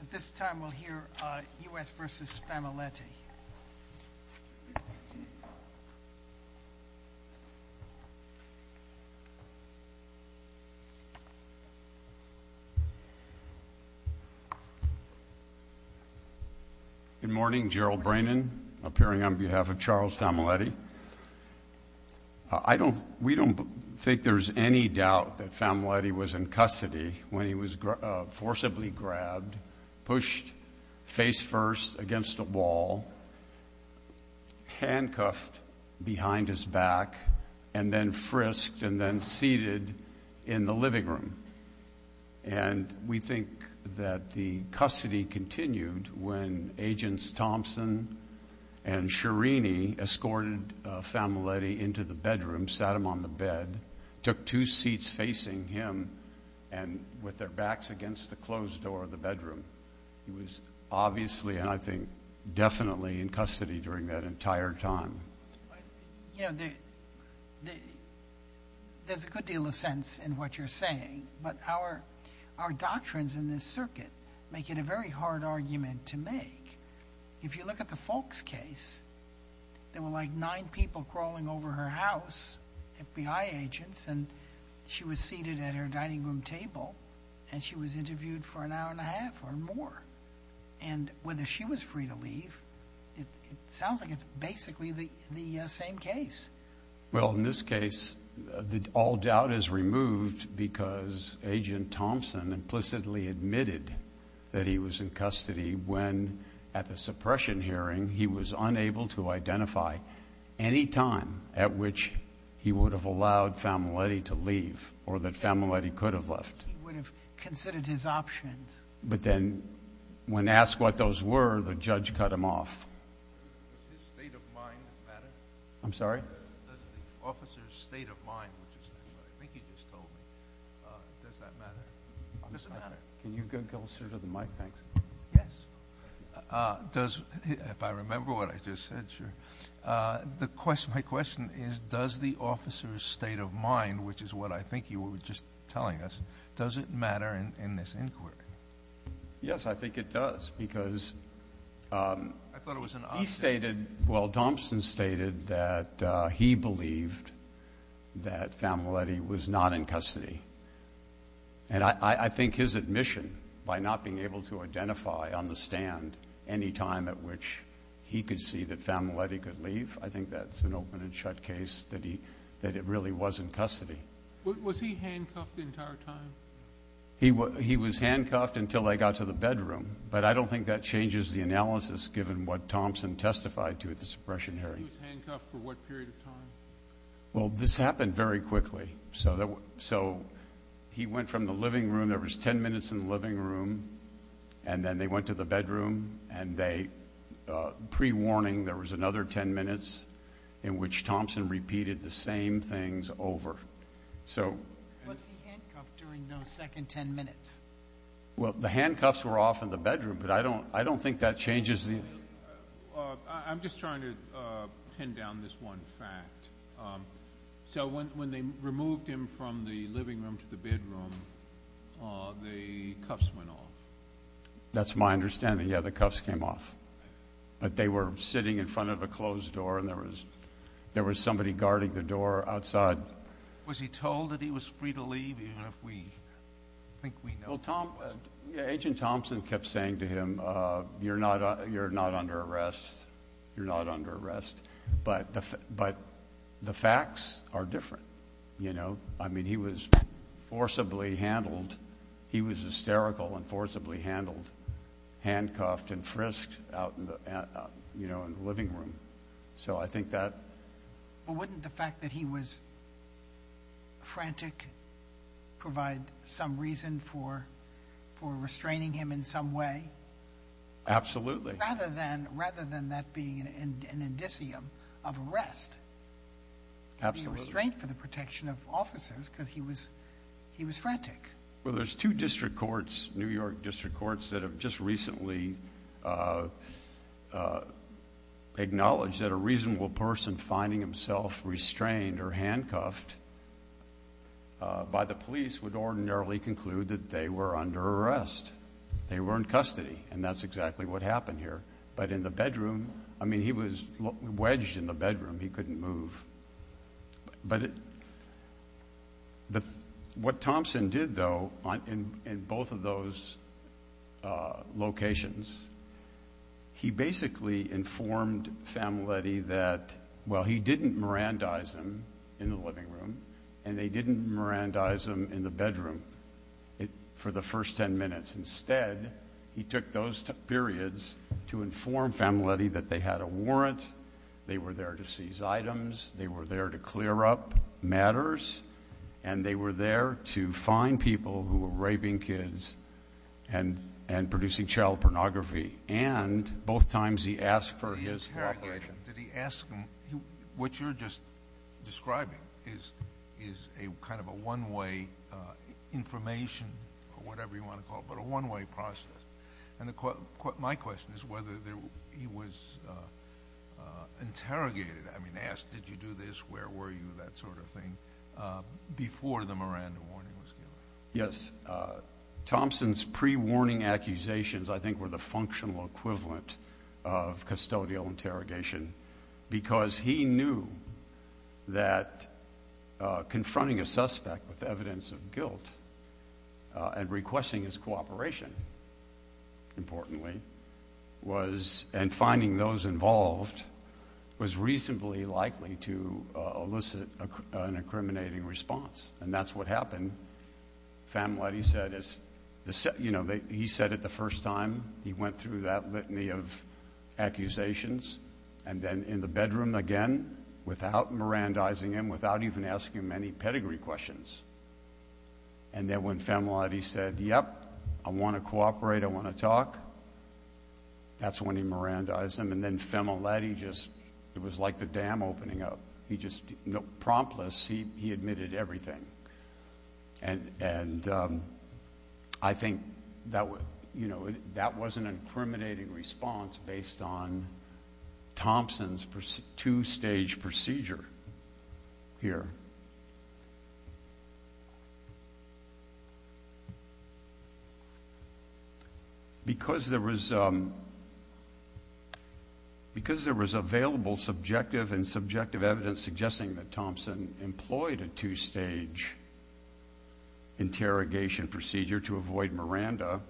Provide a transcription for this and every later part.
At this time, we'll hear U.S. v. Famoletti. Good morning. Gerald Brannan, appearing on behalf of Charles Famoletti. We don't think there's any doubt that Famoletti was in custody when he was forcibly grabbed, pushed face first against a wall, handcuffed behind his back, and then frisked and then seated in the living room. And we think that the custody continued when Agents Thompson and Chirini escorted Famoletti into the bedroom, sat him on the bed, took two seats facing him, and with their backs against the closed door of the bedroom. He was obviously, and I think definitely, in custody during that entire time. You know, there's a good deal of sense in what you're saying, but our doctrines in this circuit make it a very hard argument to make. If you look at the Foulkes case, there were like nine people crawling over her house, FBI agents, and she was seated at her dining room table, and she was interviewed for an hour and a half or more. And whether she was free to leave, it sounds like it's basically the same case. Well, in this case, all doubt is removed because Agent Thompson implicitly admitted that he was in custody when, at the suppression hearing, he was unable to identify any time at which he would have allowed Famoletti to leave or that Famoletti could have left. He would have considered his options. But then when asked what those were, the judge cut him off. Does his state of mind matter? I'm sorry? Does the officer's state of mind, which is what I think you just told me, does that matter? Does it matter? Can you get closer to the mic, thanks? Yes. If I remember what I just said, sure. My question is, does the officer's state of mind, which is what I think you were just telling us, does it matter in this inquiry? Yes, I think it does because he stated, well, Thompson stated that he believed that Famoletti was not in custody. And I think his admission by not being able to identify on the stand any time at which he could see that Famoletti could leave, I think that's an open and shut case that it really was in custody. Was he handcuffed the entire time? He was handcuffed until they got to the bedroom, but I don't think that changes the analysis given what Thompson testified to at the suppression hearing. He was handcuffed for what period of time? Well, this happened very quickly. So he went from the living room. There was 10 minutes in the living room, and then they went to the bedroom, and pre-warning, there was another 10 minutes in which Thompson repeated the same things over. Was he handcuffed during those second 10 minutes? Well, the handcuffs were off in the bedroom, but I don't think that changes the analysis. I'm just trying to pin down this one fact. So when they removed him from the living room to the bedroom, the cuffs went off. That's my understanding. Yeah, the cuffs came off. But they were sitting in front of a closed door, and there was somebody guarding the door outside. Was he told that he was free to leave? Well, Agent Thompson kept saying to him, you're not under arrest, you're not under arrest. But the facts are different. I mean, he was forcibly handled. He was hysterical and forcibly handled, handcuffed and frisked out in the living room. But wouldn't the fact that he was frantic provide some reason for restraining him in some way? Absolutely. Rather than that being an indicium of arrest. Absolutely. The restraint for the protection of officers, because he was frantic. Well, there's two district courts, New York district courts, that have just recently acknowledged that a reasonable person finding himself restrained or handcuffed by the police would ordinarily conclude that they were under arrest. They were in custody, and that's exactly what happened here. But in the bedroom, I mean, he was wedged in the bedroom. He couldn't move. But what Thompson did, though, in both of those locations, he basically informed Familetti that, well, he didn't Mirandize them in the living room, and they didn't Mirandize them in the bedroom for the first ten minutes. Instead, he took those two periods to inform Familetti that they had a warrant, they were there to seize items, they were there to clear up matters, and they were there to find people who were raping kids and producing child pornography. And both times he asked for his help. Did he interrogate him? Did he ask him? What you're just describing is kind of a one-way information or whatever you want to call it, but a one-way process. My question is whether he was interrogated, I mean, asked, did you do this, where were you, that sort of thing, before the Miranda warning was given. Yes. Thompson's pre-warning accusations, I think, were the functional equivalent of custodial interrogation because he knew that confronting a suspect with evidence of guilt and requesting his cooperation, importantly, and finding those involved was reasonably likely to elicit an incriminating response. And that's what happened. Familetti said, you know, he said it the first time, he went through that litany of accusations, and then in the bedroom again without Mirandizing him, without even asking him any pedigree questions. And then when Familetti said, yep, I want to cooperate, I want to talk, that's when he Mirandized him. And then Familetti just, it was like the dam opening up. Promptless, he admitted everything. And I think that was an incriminating response based on Thompson's two-stage procedure here. Because there was available subjective and subjective evidence suggesting that Thompson employed a two-stage interrogation procedure to avoid Miranda,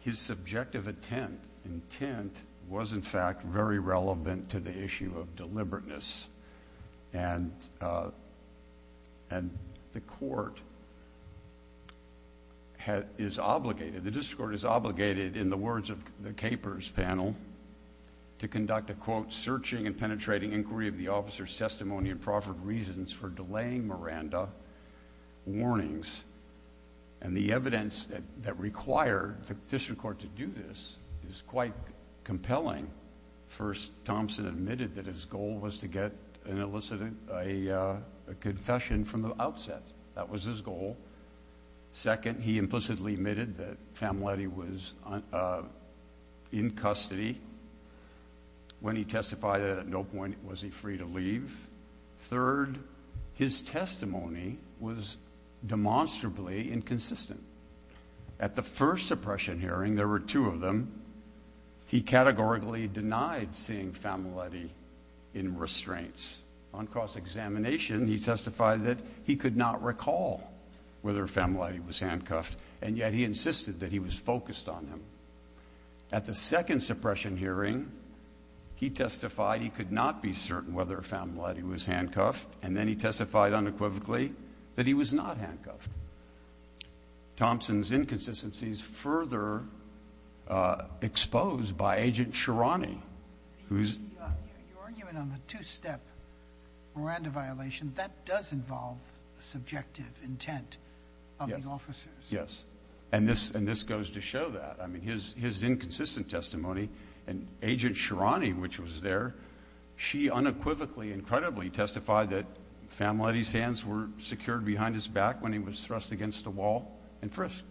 his subjective intent was, in fact, very relevant to the issue of deliberateness. And the court is obligated, the district court is obligated, in the words of the KPERS panel, to conduct a, quote, searching and penetrating inquiry of the officer's testimony and proffered reasons for delaying Miranda warnings. And the evidence that required the district court to do this is quite compelling. First, Thompson admitted that his goal was to get an elicit a confession from the outset. That was his goal. Second, he implicitly admitted that Familetti was in custody. When he testified at no point was he free to leave. Third, his testimony was demonstrably inconsistent. At the first suppression hearing, there were two of them, he categorically denied seeing Familetti in restraints. On cross-examination, he testified that he could not recall whether Familetti was handcuffed, and yet he insisted that he was focused on him. At the second suppression hearing, he testified he could not be certain whether Familetti was handcuffed, and then he testified unequivocally that he was not handcuffed. Thompson's inconsistencies further exposed by Agent Sherrani, who's ---- Your argument on the two-step Miranda violation, that does involve subjective intent of the officers. Yes. And this goes to show that. I mean, his inconsistent testimony, and Agent Sherrani, which was there, she unequivocally and credibly testified that Familetti's hands were secured behind his back when he was thrust against a wall and frisked,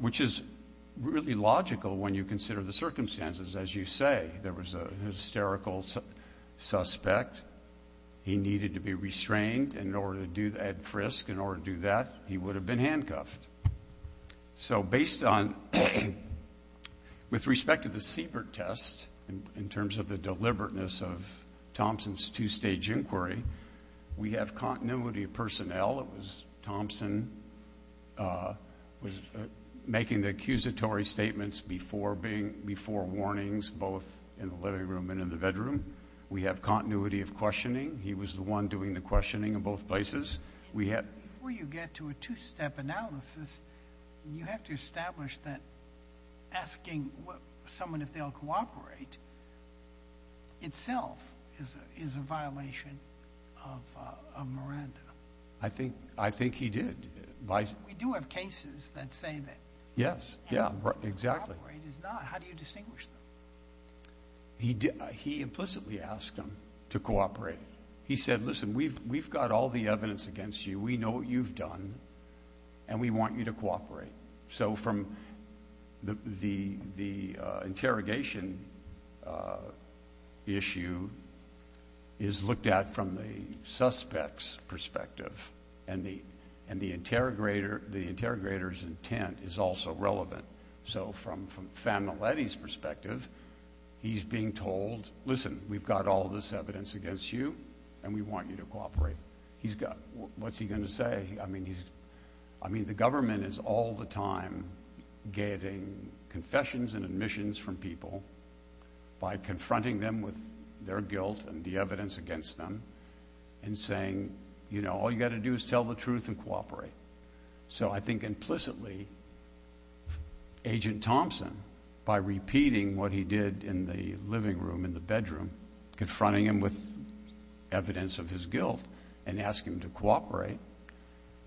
which is really logical when you consider the circumstances. As you say, there was a hysterical suspect. He needed to be restrained in order to do that frisk. In order to do that, he would have been handcuffed. So based on, with respect to the Siebert test, in terms of the deliberateness of Thompson's two-stage inquiry, we have continuity of personnel. It was Thompson making the accusatory statements before warnings, both in the living room and in the bedroom. We have continuity of questioning. He was the one doing the questioning in both places. Before you get to a two-step analysis, you have to establish that asking someone if they'll cooperate itself is a violation of Miranda. I think he did. We do have cases that say that. Yes, exactly. How do you distinguish them? He implicitly asked them to cooperate. He said, listen, we've got all the evidence against you. We know what you've done, and we want you to cooperate. So from the interrogation issue is looked at from the suspect's perspective, and the interrogator's intent is also relevant. So from Familetti's perspective, he's being told, listen, we've got all this evidence against you, and we want you to cooperate. What's he going to say? I mean, the government is all the time getting confessions and admissions from people by confronting them with their guilt and the evidence against them and saying, you know, all you've got to do is tell the truth and cooperate. So I think implicitly, Agent Thompson, by repeating what he did in the living room, in the bedroom, confronting him with evidence of his guilt and asking him to cooperate,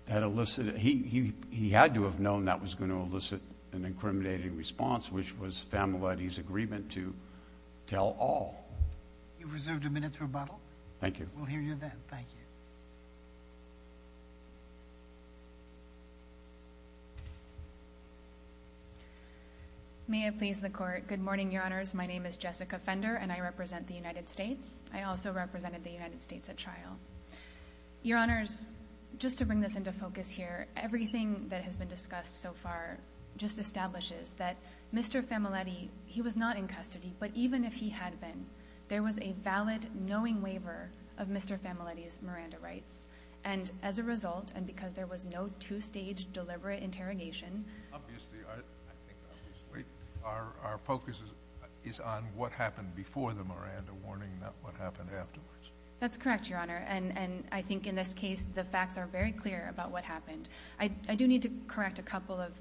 he had to have known that was going to elicit an incriminating response, which was Familetti's agreement to tell all. You've reserved a minute to rebuttal. Thank you. We'll hear you then. Thank you. May I please the Court? Good morning, Your Honors. My name is Jessica Fender, and I represent the United States. I also represented the United States at trial. Your Honors, just to bring this into focus here, everything that has been discussed so far just establishes that Mr. Familetti, he was not in custody, but even if he had been, there was a valid knowing waiver of Mr. Familetti's Miranda rights. And as a result, and because there was no two-stage deliberate interrogation. Obviously, I think obviously our focus is on what happened before the Miranda warning, not what happened afterwards. That's correct, Your Honor. And I think in this case the facts are very clear about what happened. I do need to correct a couple of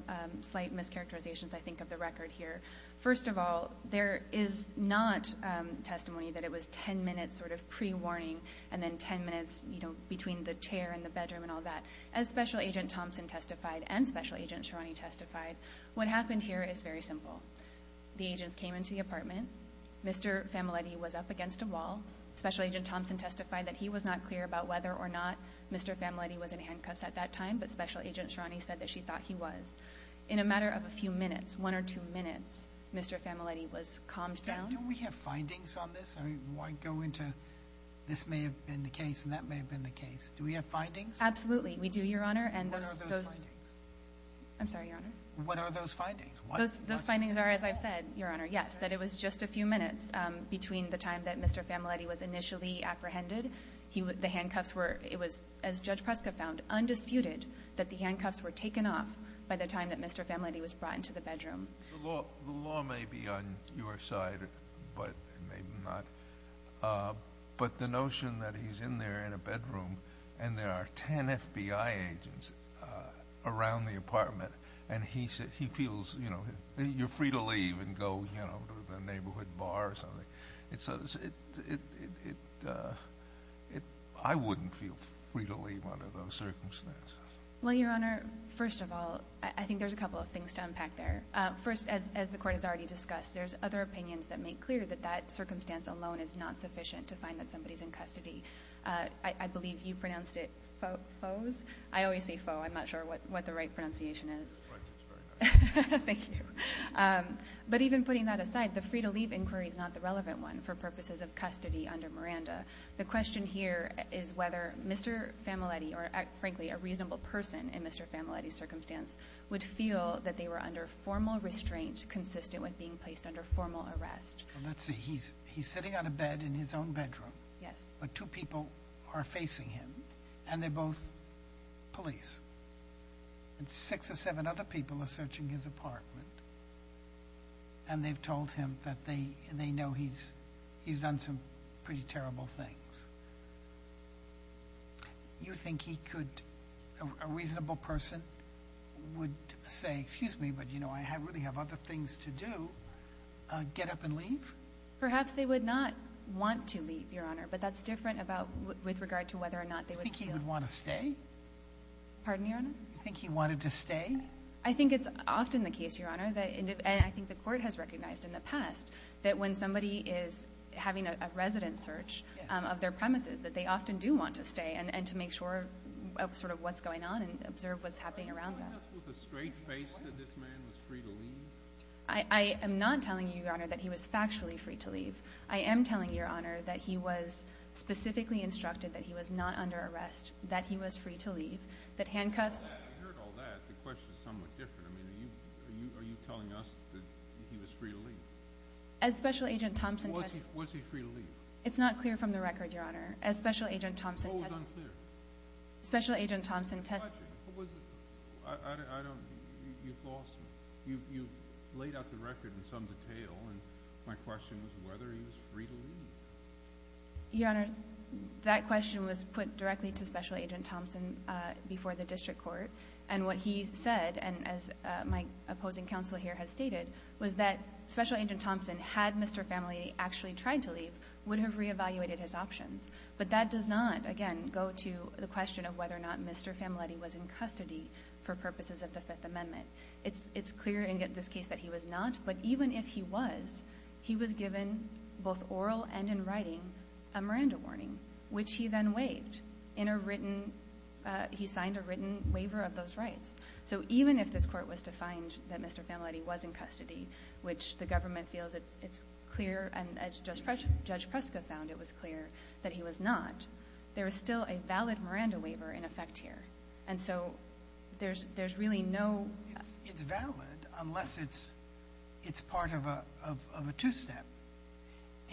slight mischaracterizations, I think, of the record here. First of all, there is not testimony that it was ten minutes sort of pre-warning and then ten minutes, you know, between the chair and the bedroom and all that. As Special Agent Thompson testified and Special Agent Sherani testified, what happened here is very simple. The agents came into the apartment. Mr. Familetti was up against a wall. Special Agent Thompson testified that he was not clear about whether or not Mr. Familetti was in handcuffs at that time, but Special Agent Sherani said that she thought he was. In a matter of a few minutes, one or two minutes, Mr. Familetti was calmed down. Do we have findings on this? I mean, why go into this may have been the case and that may have been the case. Do we have findings? Absolutely. We do, Your Honor. What are those findings? I'm sorry, Your Honor. What are those findings? Those findings are, as I've said, Your Honor, yes, that it was just a few minutes between the time that Mr. Familetti was initially apprehended. The handcuffs were, as Judge Prescott found, undisputed that the handcuffs were taken off by the time that Mr. Familetti was brought into the bedroom. The law may be on your side, but maybe not. But the notion that he's in there in a bedroom and there are 10 FBI agents around the apartment and he feels, you know, you're free to leave and go to the neighborhood bar or something. I wouldn't feel free to leave under those circumstances. Well, Your Honor, first of all, I think there's a couple of things to unpack there. First, as the Court has already discussed, there's other opinions that make clear that that circumstance alone is not sufficient to find that somebody's in custody. I believe you pronounced it foes. I always say foe. I'm not sure what the right pronunciation is. Your French is very nice. Thank you. But even putting that aside, the free-to-leave inquiry is not the relevant one for purposes of custody under Miranda. The question here is whether Mr. Familetti or, frankly, a reasonable person in Mr. Familetti's circumstance would feel that they were under formal restraint consistent with being placed under formal arrest. Let's see. He's sitting on a bed in his own bedroom. Yes. But two people are facing him, and they're both police. And six or seven other people are searching his apartment, and they've told him that they know he's done some pretty terrible things. You think he could, a reasonable person, would say, excuse me, but, you know, I really have other things to do, get up and leave? Perhaps they would not want to leave, Your Honor, but that's different with regard to whether or not they would feel that. Pardon, Your Honor? You think he wanted to stay? I think it's often the case, Your Honor, and I think the court has recognized in the past, that when somebody is having a resident search of their premises, that they often do want to stay and to make sure of sort of what's going on and observe what's happening around them. I am not telling you, Your Honor, that he was factually free to leave. I am telling you, Your Honor, that he was specifically instructed that he was not under arrest, that he was free to leave, that handcuffs— I heard all that. The question is somewhat different. I mean, are you telling us that he was free to leave? As Special Agent Thompson— Was he free to leave? It's not clear from the record, Your Honor. As Special Agent Thompson— What was unclear? Special Agent Thompson— What was—I don't—you've lost me. You've laid out the record in some detail, and my question was whether he was free to leave. Your Honor, that question was put directly to Special Agent Thompson before the district court, and what he said, and as my opposing counsel here has stated, was that Special Agent Thompson, had Mr. Familetti actually tried to leave, would have reevaluated his options. But that does not, again, go to the question of whether or not Mr. Familetti was in custody for purposes of the Fifth Amendment. It's clear in this case that he was not, but even if he was, he was given both oral and in writing a Miranda warning, which he then waived in a written—he signed a written waiver of those rights. So even if this Court was to find that Mr. Familetti was in custody, which the government feels it's clear, and as Judge Preska found it was clear that he was not, there is still a valid Miranda waiver in effect here. And so there's really no— It's valid unless it's part of a two-step,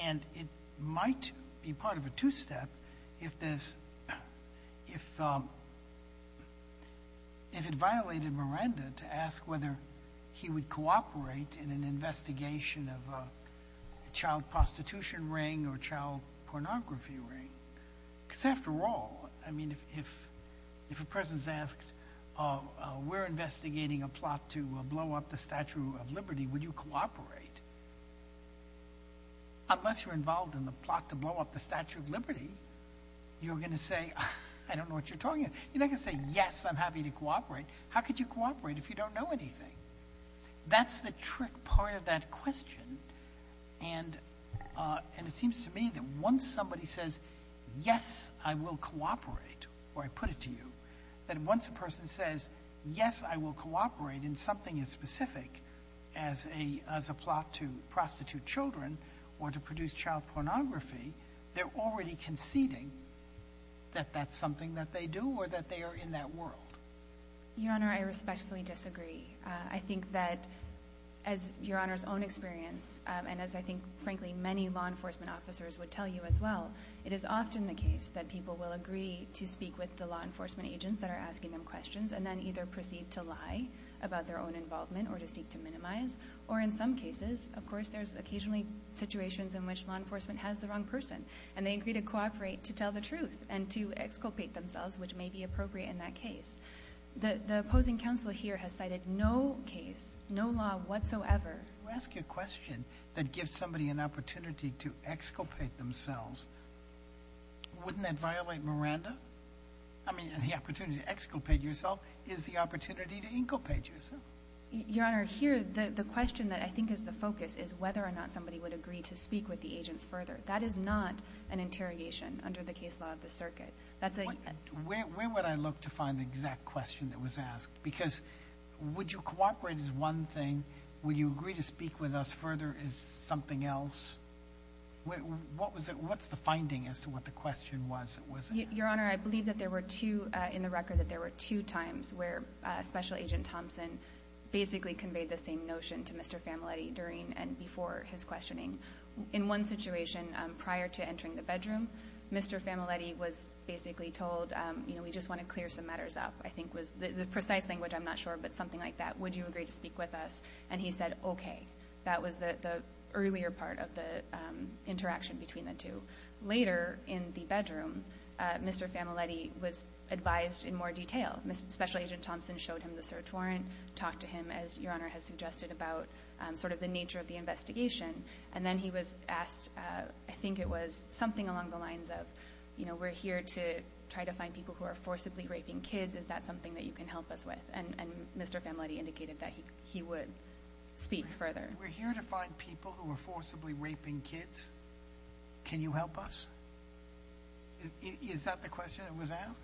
and it might be part of a two-step if there's— if it violated Miranda to ask whether he would cooperate in an investigation of a child prostitution ring or a child pornography ring. Because after all, I mean, if a person's asked, we're investigating a plot to blow up the Statue of Liberty, would you cooperate? Unless you're involved in the plot to blow up the Statue of Liberty, you're going to say, I don't know what you're talking about. You're not going to say, yes, I'm happy to cooperate. How could you cooperate if you don't know anything? That's the trick part of that question, and it seems to me that once somebody says, yes, I will cooperate, or I put it to you, that once a person says, yes, I will cooperate in something as specific as a plot to prostitute children or to produce child pornography, they're already conceding that that's something that they do or that they are in that world. Your Honor, I respectfully disagree. I think that, as Your Honor's own experience, and as I think, frankly, many law enforcement officers would tell you as well, it is often the case that people will agree to speak with the law enforcement agents that are asking them questions and then either proceed to lie about their own involvement or to seek to minimize, or in some cases, of course, there's occasionally situations in which law enforcement has the wrong person, and they agree to cooperate to tell the truth and to exculpate themselves, which may be appropriate in that case. The opposing counsel here has cited no case, no law whatsoever. If you ask a question that gives somebody an opportunity to exculpate themselves, wouldn't that violate Miranda? I mean, the opportunity to exculpate yourself is the opportunity to inculpate yourself. Your Honor, here the question that I think is the focus is whether or not somebody would agree to speak with the agents further. That is not an interrogation under the case law of the circuit. Where would I look to find the exact question that was asked? Because would you cooperate is one thing. Would you agree to speak with us further is something else. What's the finding as to what the question was that was asked? Your Honor, I believe in the record that there were two times where Special Agent Thompson basically conveyed the same notion to Mr. Famoletti during and before his questioning. In one situation, prior to entering the bedroom, Mr. Famoletti was basically told, you know, we just want to clear some matters up, I think was the precise language, I'm not sure, but something like that. Would you agree to speak with us? And he said, okay. That was the earlier part of the interaction between the two. Later in the bedroom, Mr. Famoletti was advised in more detail. Special Agent Thompson showed him the search warrant, talked to him as Your Honor has suggested about sort of the nature of the investigation, and then he was asked, I think it was something along the lines of, you know, we're here to try to find people who are forcibly raping kids. Is that something that you can help us with? And Mr. Famoletti indicated that he would speak further. We're here to find people who are forcibly raping kids. Can you help us? Is that the question that was asked?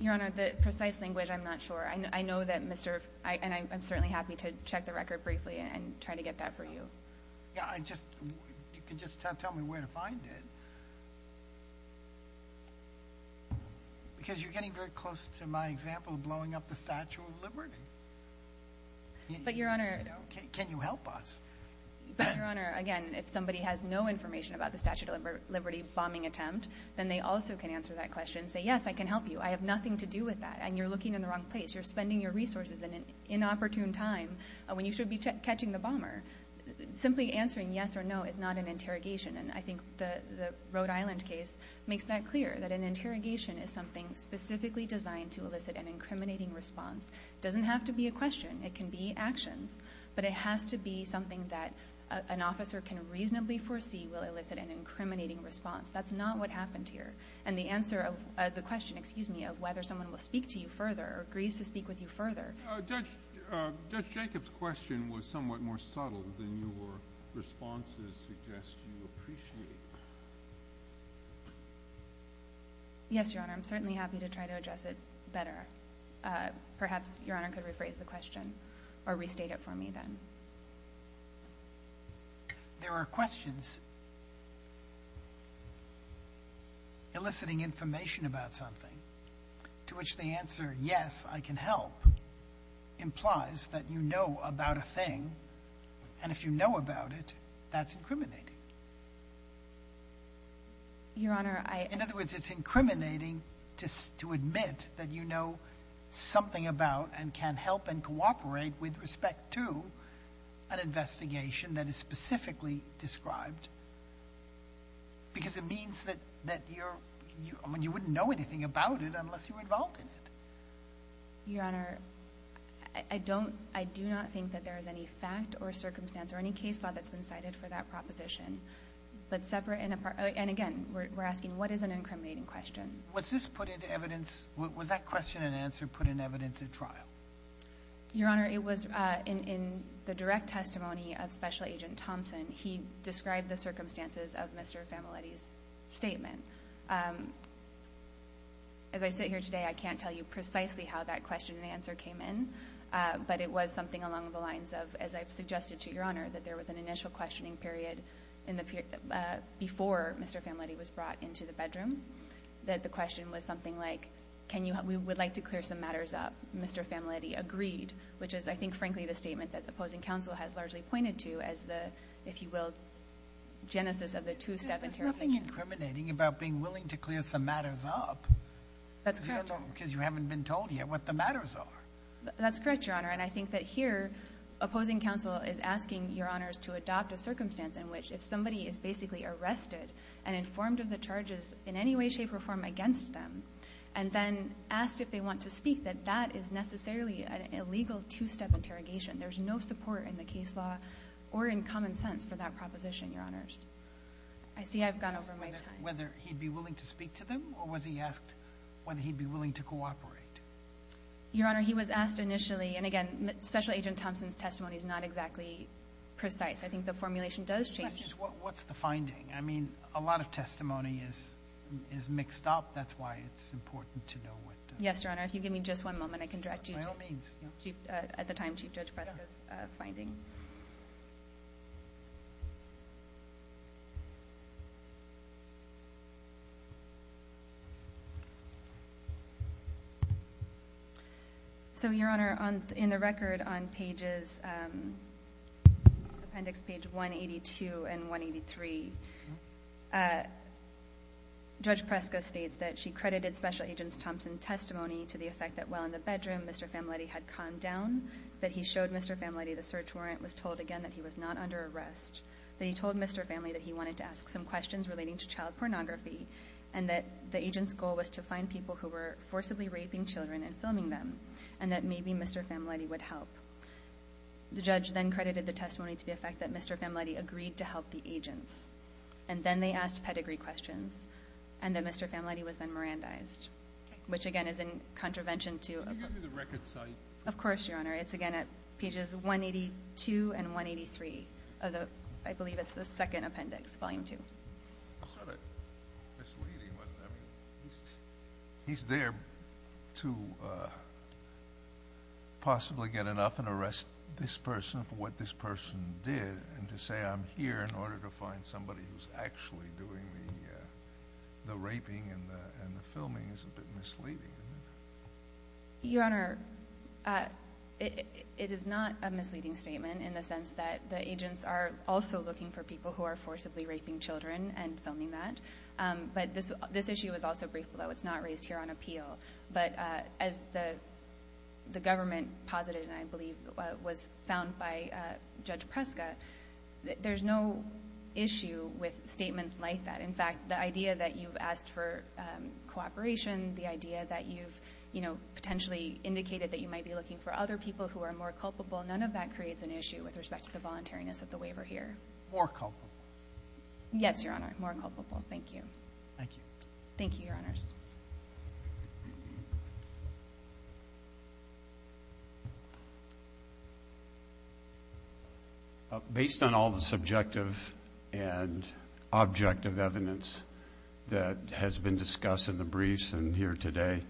Your Honor, the precise language, I'm not sure. I know that Mr. and I'm certainly happy to check the record briefly and try to get that for you. You can just tell me where to find it. Because you're getting very close to my example of blowing up the Statue of Liberty. Can you help us? Your Honor, again, if somebody has no information about the Statue of Liberty bombing attempt, then they also can answer that question and say, yes, I can help you. I have nothing to do with that. And you're looking in the wrong place. You're spending your resources in an inopportune time when you should be catching the bomber. Simply answering yes or no is not an interrogation. And I think the Rhode Island case makes that clear, that an interrogation is something specifically designed to elicit an incriminating response. It doesn't have to be a question. It can be actions. But it has to be something that an officer can reasonably foresee will elicit an incriminating response. That's not what happened here. And the question of whether someone will speak to you further or agrees to speak with you further. Judge Jacob's question was somewhat more subtle than your responses suggest you appreciate. Yes, Your Honor. I'm certainly happy to try to address it better. Perhaps Your Honor could rephrase the question or restate it for me then. There are questions eliciting information about something, to which the answer, yes, I can help, implies that you know about a thing. And if you know about it, that's incriminating. Your Honor, I... In other words, it's incriminating to admit that you know something about and can help and cooperate with respect to an investigation that is specifically described because it means that you wouldn't know anything about it unless you were involved in it. Your Honor, I do not think that there is any fact or circumstance or any case law that's been cited for that proposition. But separate and apart, and again, we're asking what is an incriminating question? Was this put into evidence? Was that question and answer put in evidence at trial? Your Honor, it was in the direct testimony of Special Agent Thompson. He described the circumstances of Mr. Familetti's statement. As I sit here today, I can't tell you precisely how that question and answer came in, but it was something along the lines of, as I've suggested to Your Honor, that there was an initial questioning period before Mr. Familetti was brought into the bedroom, that the question was something like, we would like to clear some matters up. Mr. Familetti agreed, which is, I think, frankly, the statement that the opposing counsel has largely pointed to as the, if you will, genesis of the two-step interrogation. There's nothing incriminating about being willing to clear some matters up. That's correct. Because you haven't been told yet what the matters are. That's correct, Your Honor. And I think that here, opposing counsel is asking, Your Honors, to adopt a circumstance in which if somebody is basically arrested and informed of the charges in any way, shape, or form against them and then asked if they want to speak, that that is necessarily an illegal two-step interrogation. There's no support in the case law or in common sense for that proposition, Your Honors. I see I've gone over my time. Whether he'd be willing to speak to them, or was he asked whether he'd be willing to cooperate? Your Honor, he was asked initially, and again, Special Agent Thompson's testimony is not exactly precise. I think the formulation does change. What's the finding? I mean, a lot of testimony is mixed up. That's why it's important to know what the... Yes, Your Honor. If you give me just one moment, I can direct you to... By all means. At the time, Chief Judge Presco's finding. So, Your Honor, in the record on pages, appendix page 182 and 183, Judge Presco states that she credited Special Agent Thompson's testimony to the effect that while in the bedroom, Mr. Familetti had calmed down, that he showed Mr. Familetti the search warrant, was told again that he was not under arrest, that he told Mr. Familetti that he wanted to ask some questions relating to child pornography, and that the agent's goal was to find people who were forcibly raping children and filming them, and that maybe Mr. Familetti would help. The judge then credited the testimony to the effect that Mr. Familetti agreed to help the agents, and then they asked pedigree questions, and that Mr. Familetti was then Mirandized, which again is in contravention to... Can you give me the record site? Of course, Your Honor. It's again at pages 182 and 183 of the, I believe it's the second appendix, volume two. It's sort of misleading, wasn't it? I mean, he's there to possibly get enough and arrest this person for what this person did, and to say I'm here in order to find somebody who's actually doing the raping and the filming is a bit misleading. Your Honor, it is not a misleading statement in the sense that the agents are also looking for people who are forcibly raping children and filming that. But this issue was also briefed below. It's not raised here on appeal. But as the government posited, and I believe was found by Judge Preska, there's no issue with statements like that. In fact, the idea that you've asked for cooperation, the idea that you've potentially indicated that you might be looking for other people who are more culpable, none of that creates an issue with respect to the voluntariness of the waiver here. More culpable. Yes, Your Honor, more culpable. Thank you. Thank you. Thank you, Your Honors. Thank you. Based on all the subjective and objective evidence that has been discussed in the briefs and here today,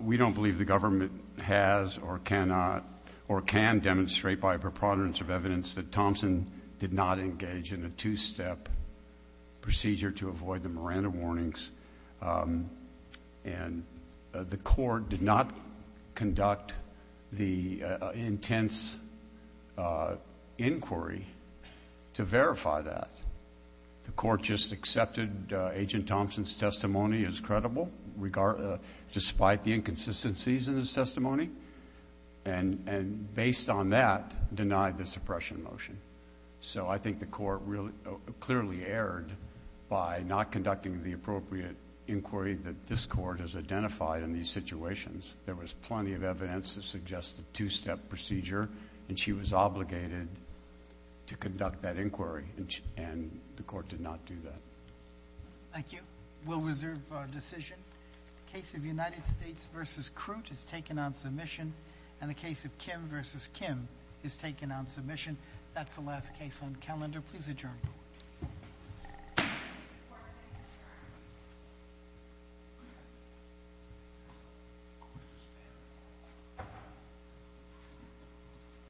we don't believe the government has or cannot or can demonstrate by a preponderance of evidence that Thompson did not engage in a two-step procedure to avoid the Miranda warnings. And the court did not conduct the intense inquiry to verify that. The court just accepted Agent Thompson's testimony as credible, despite the inconsistencies in his testimony, and based on that, denied the suppression motion. So I think the court clearly erred by not conducting the appropriate inquiry that this court has identified in these situations. There was plenty of evidence to suggest a two-step procedure, and she was obligated to conduct that inquiry, and the court did not do that. Thank you. We'll reserve our decision. The case of United States v. Crute has taken on submission, and the case of Kim v. Kim has taken on submission. That's the last case on the calendar. Please adjourn.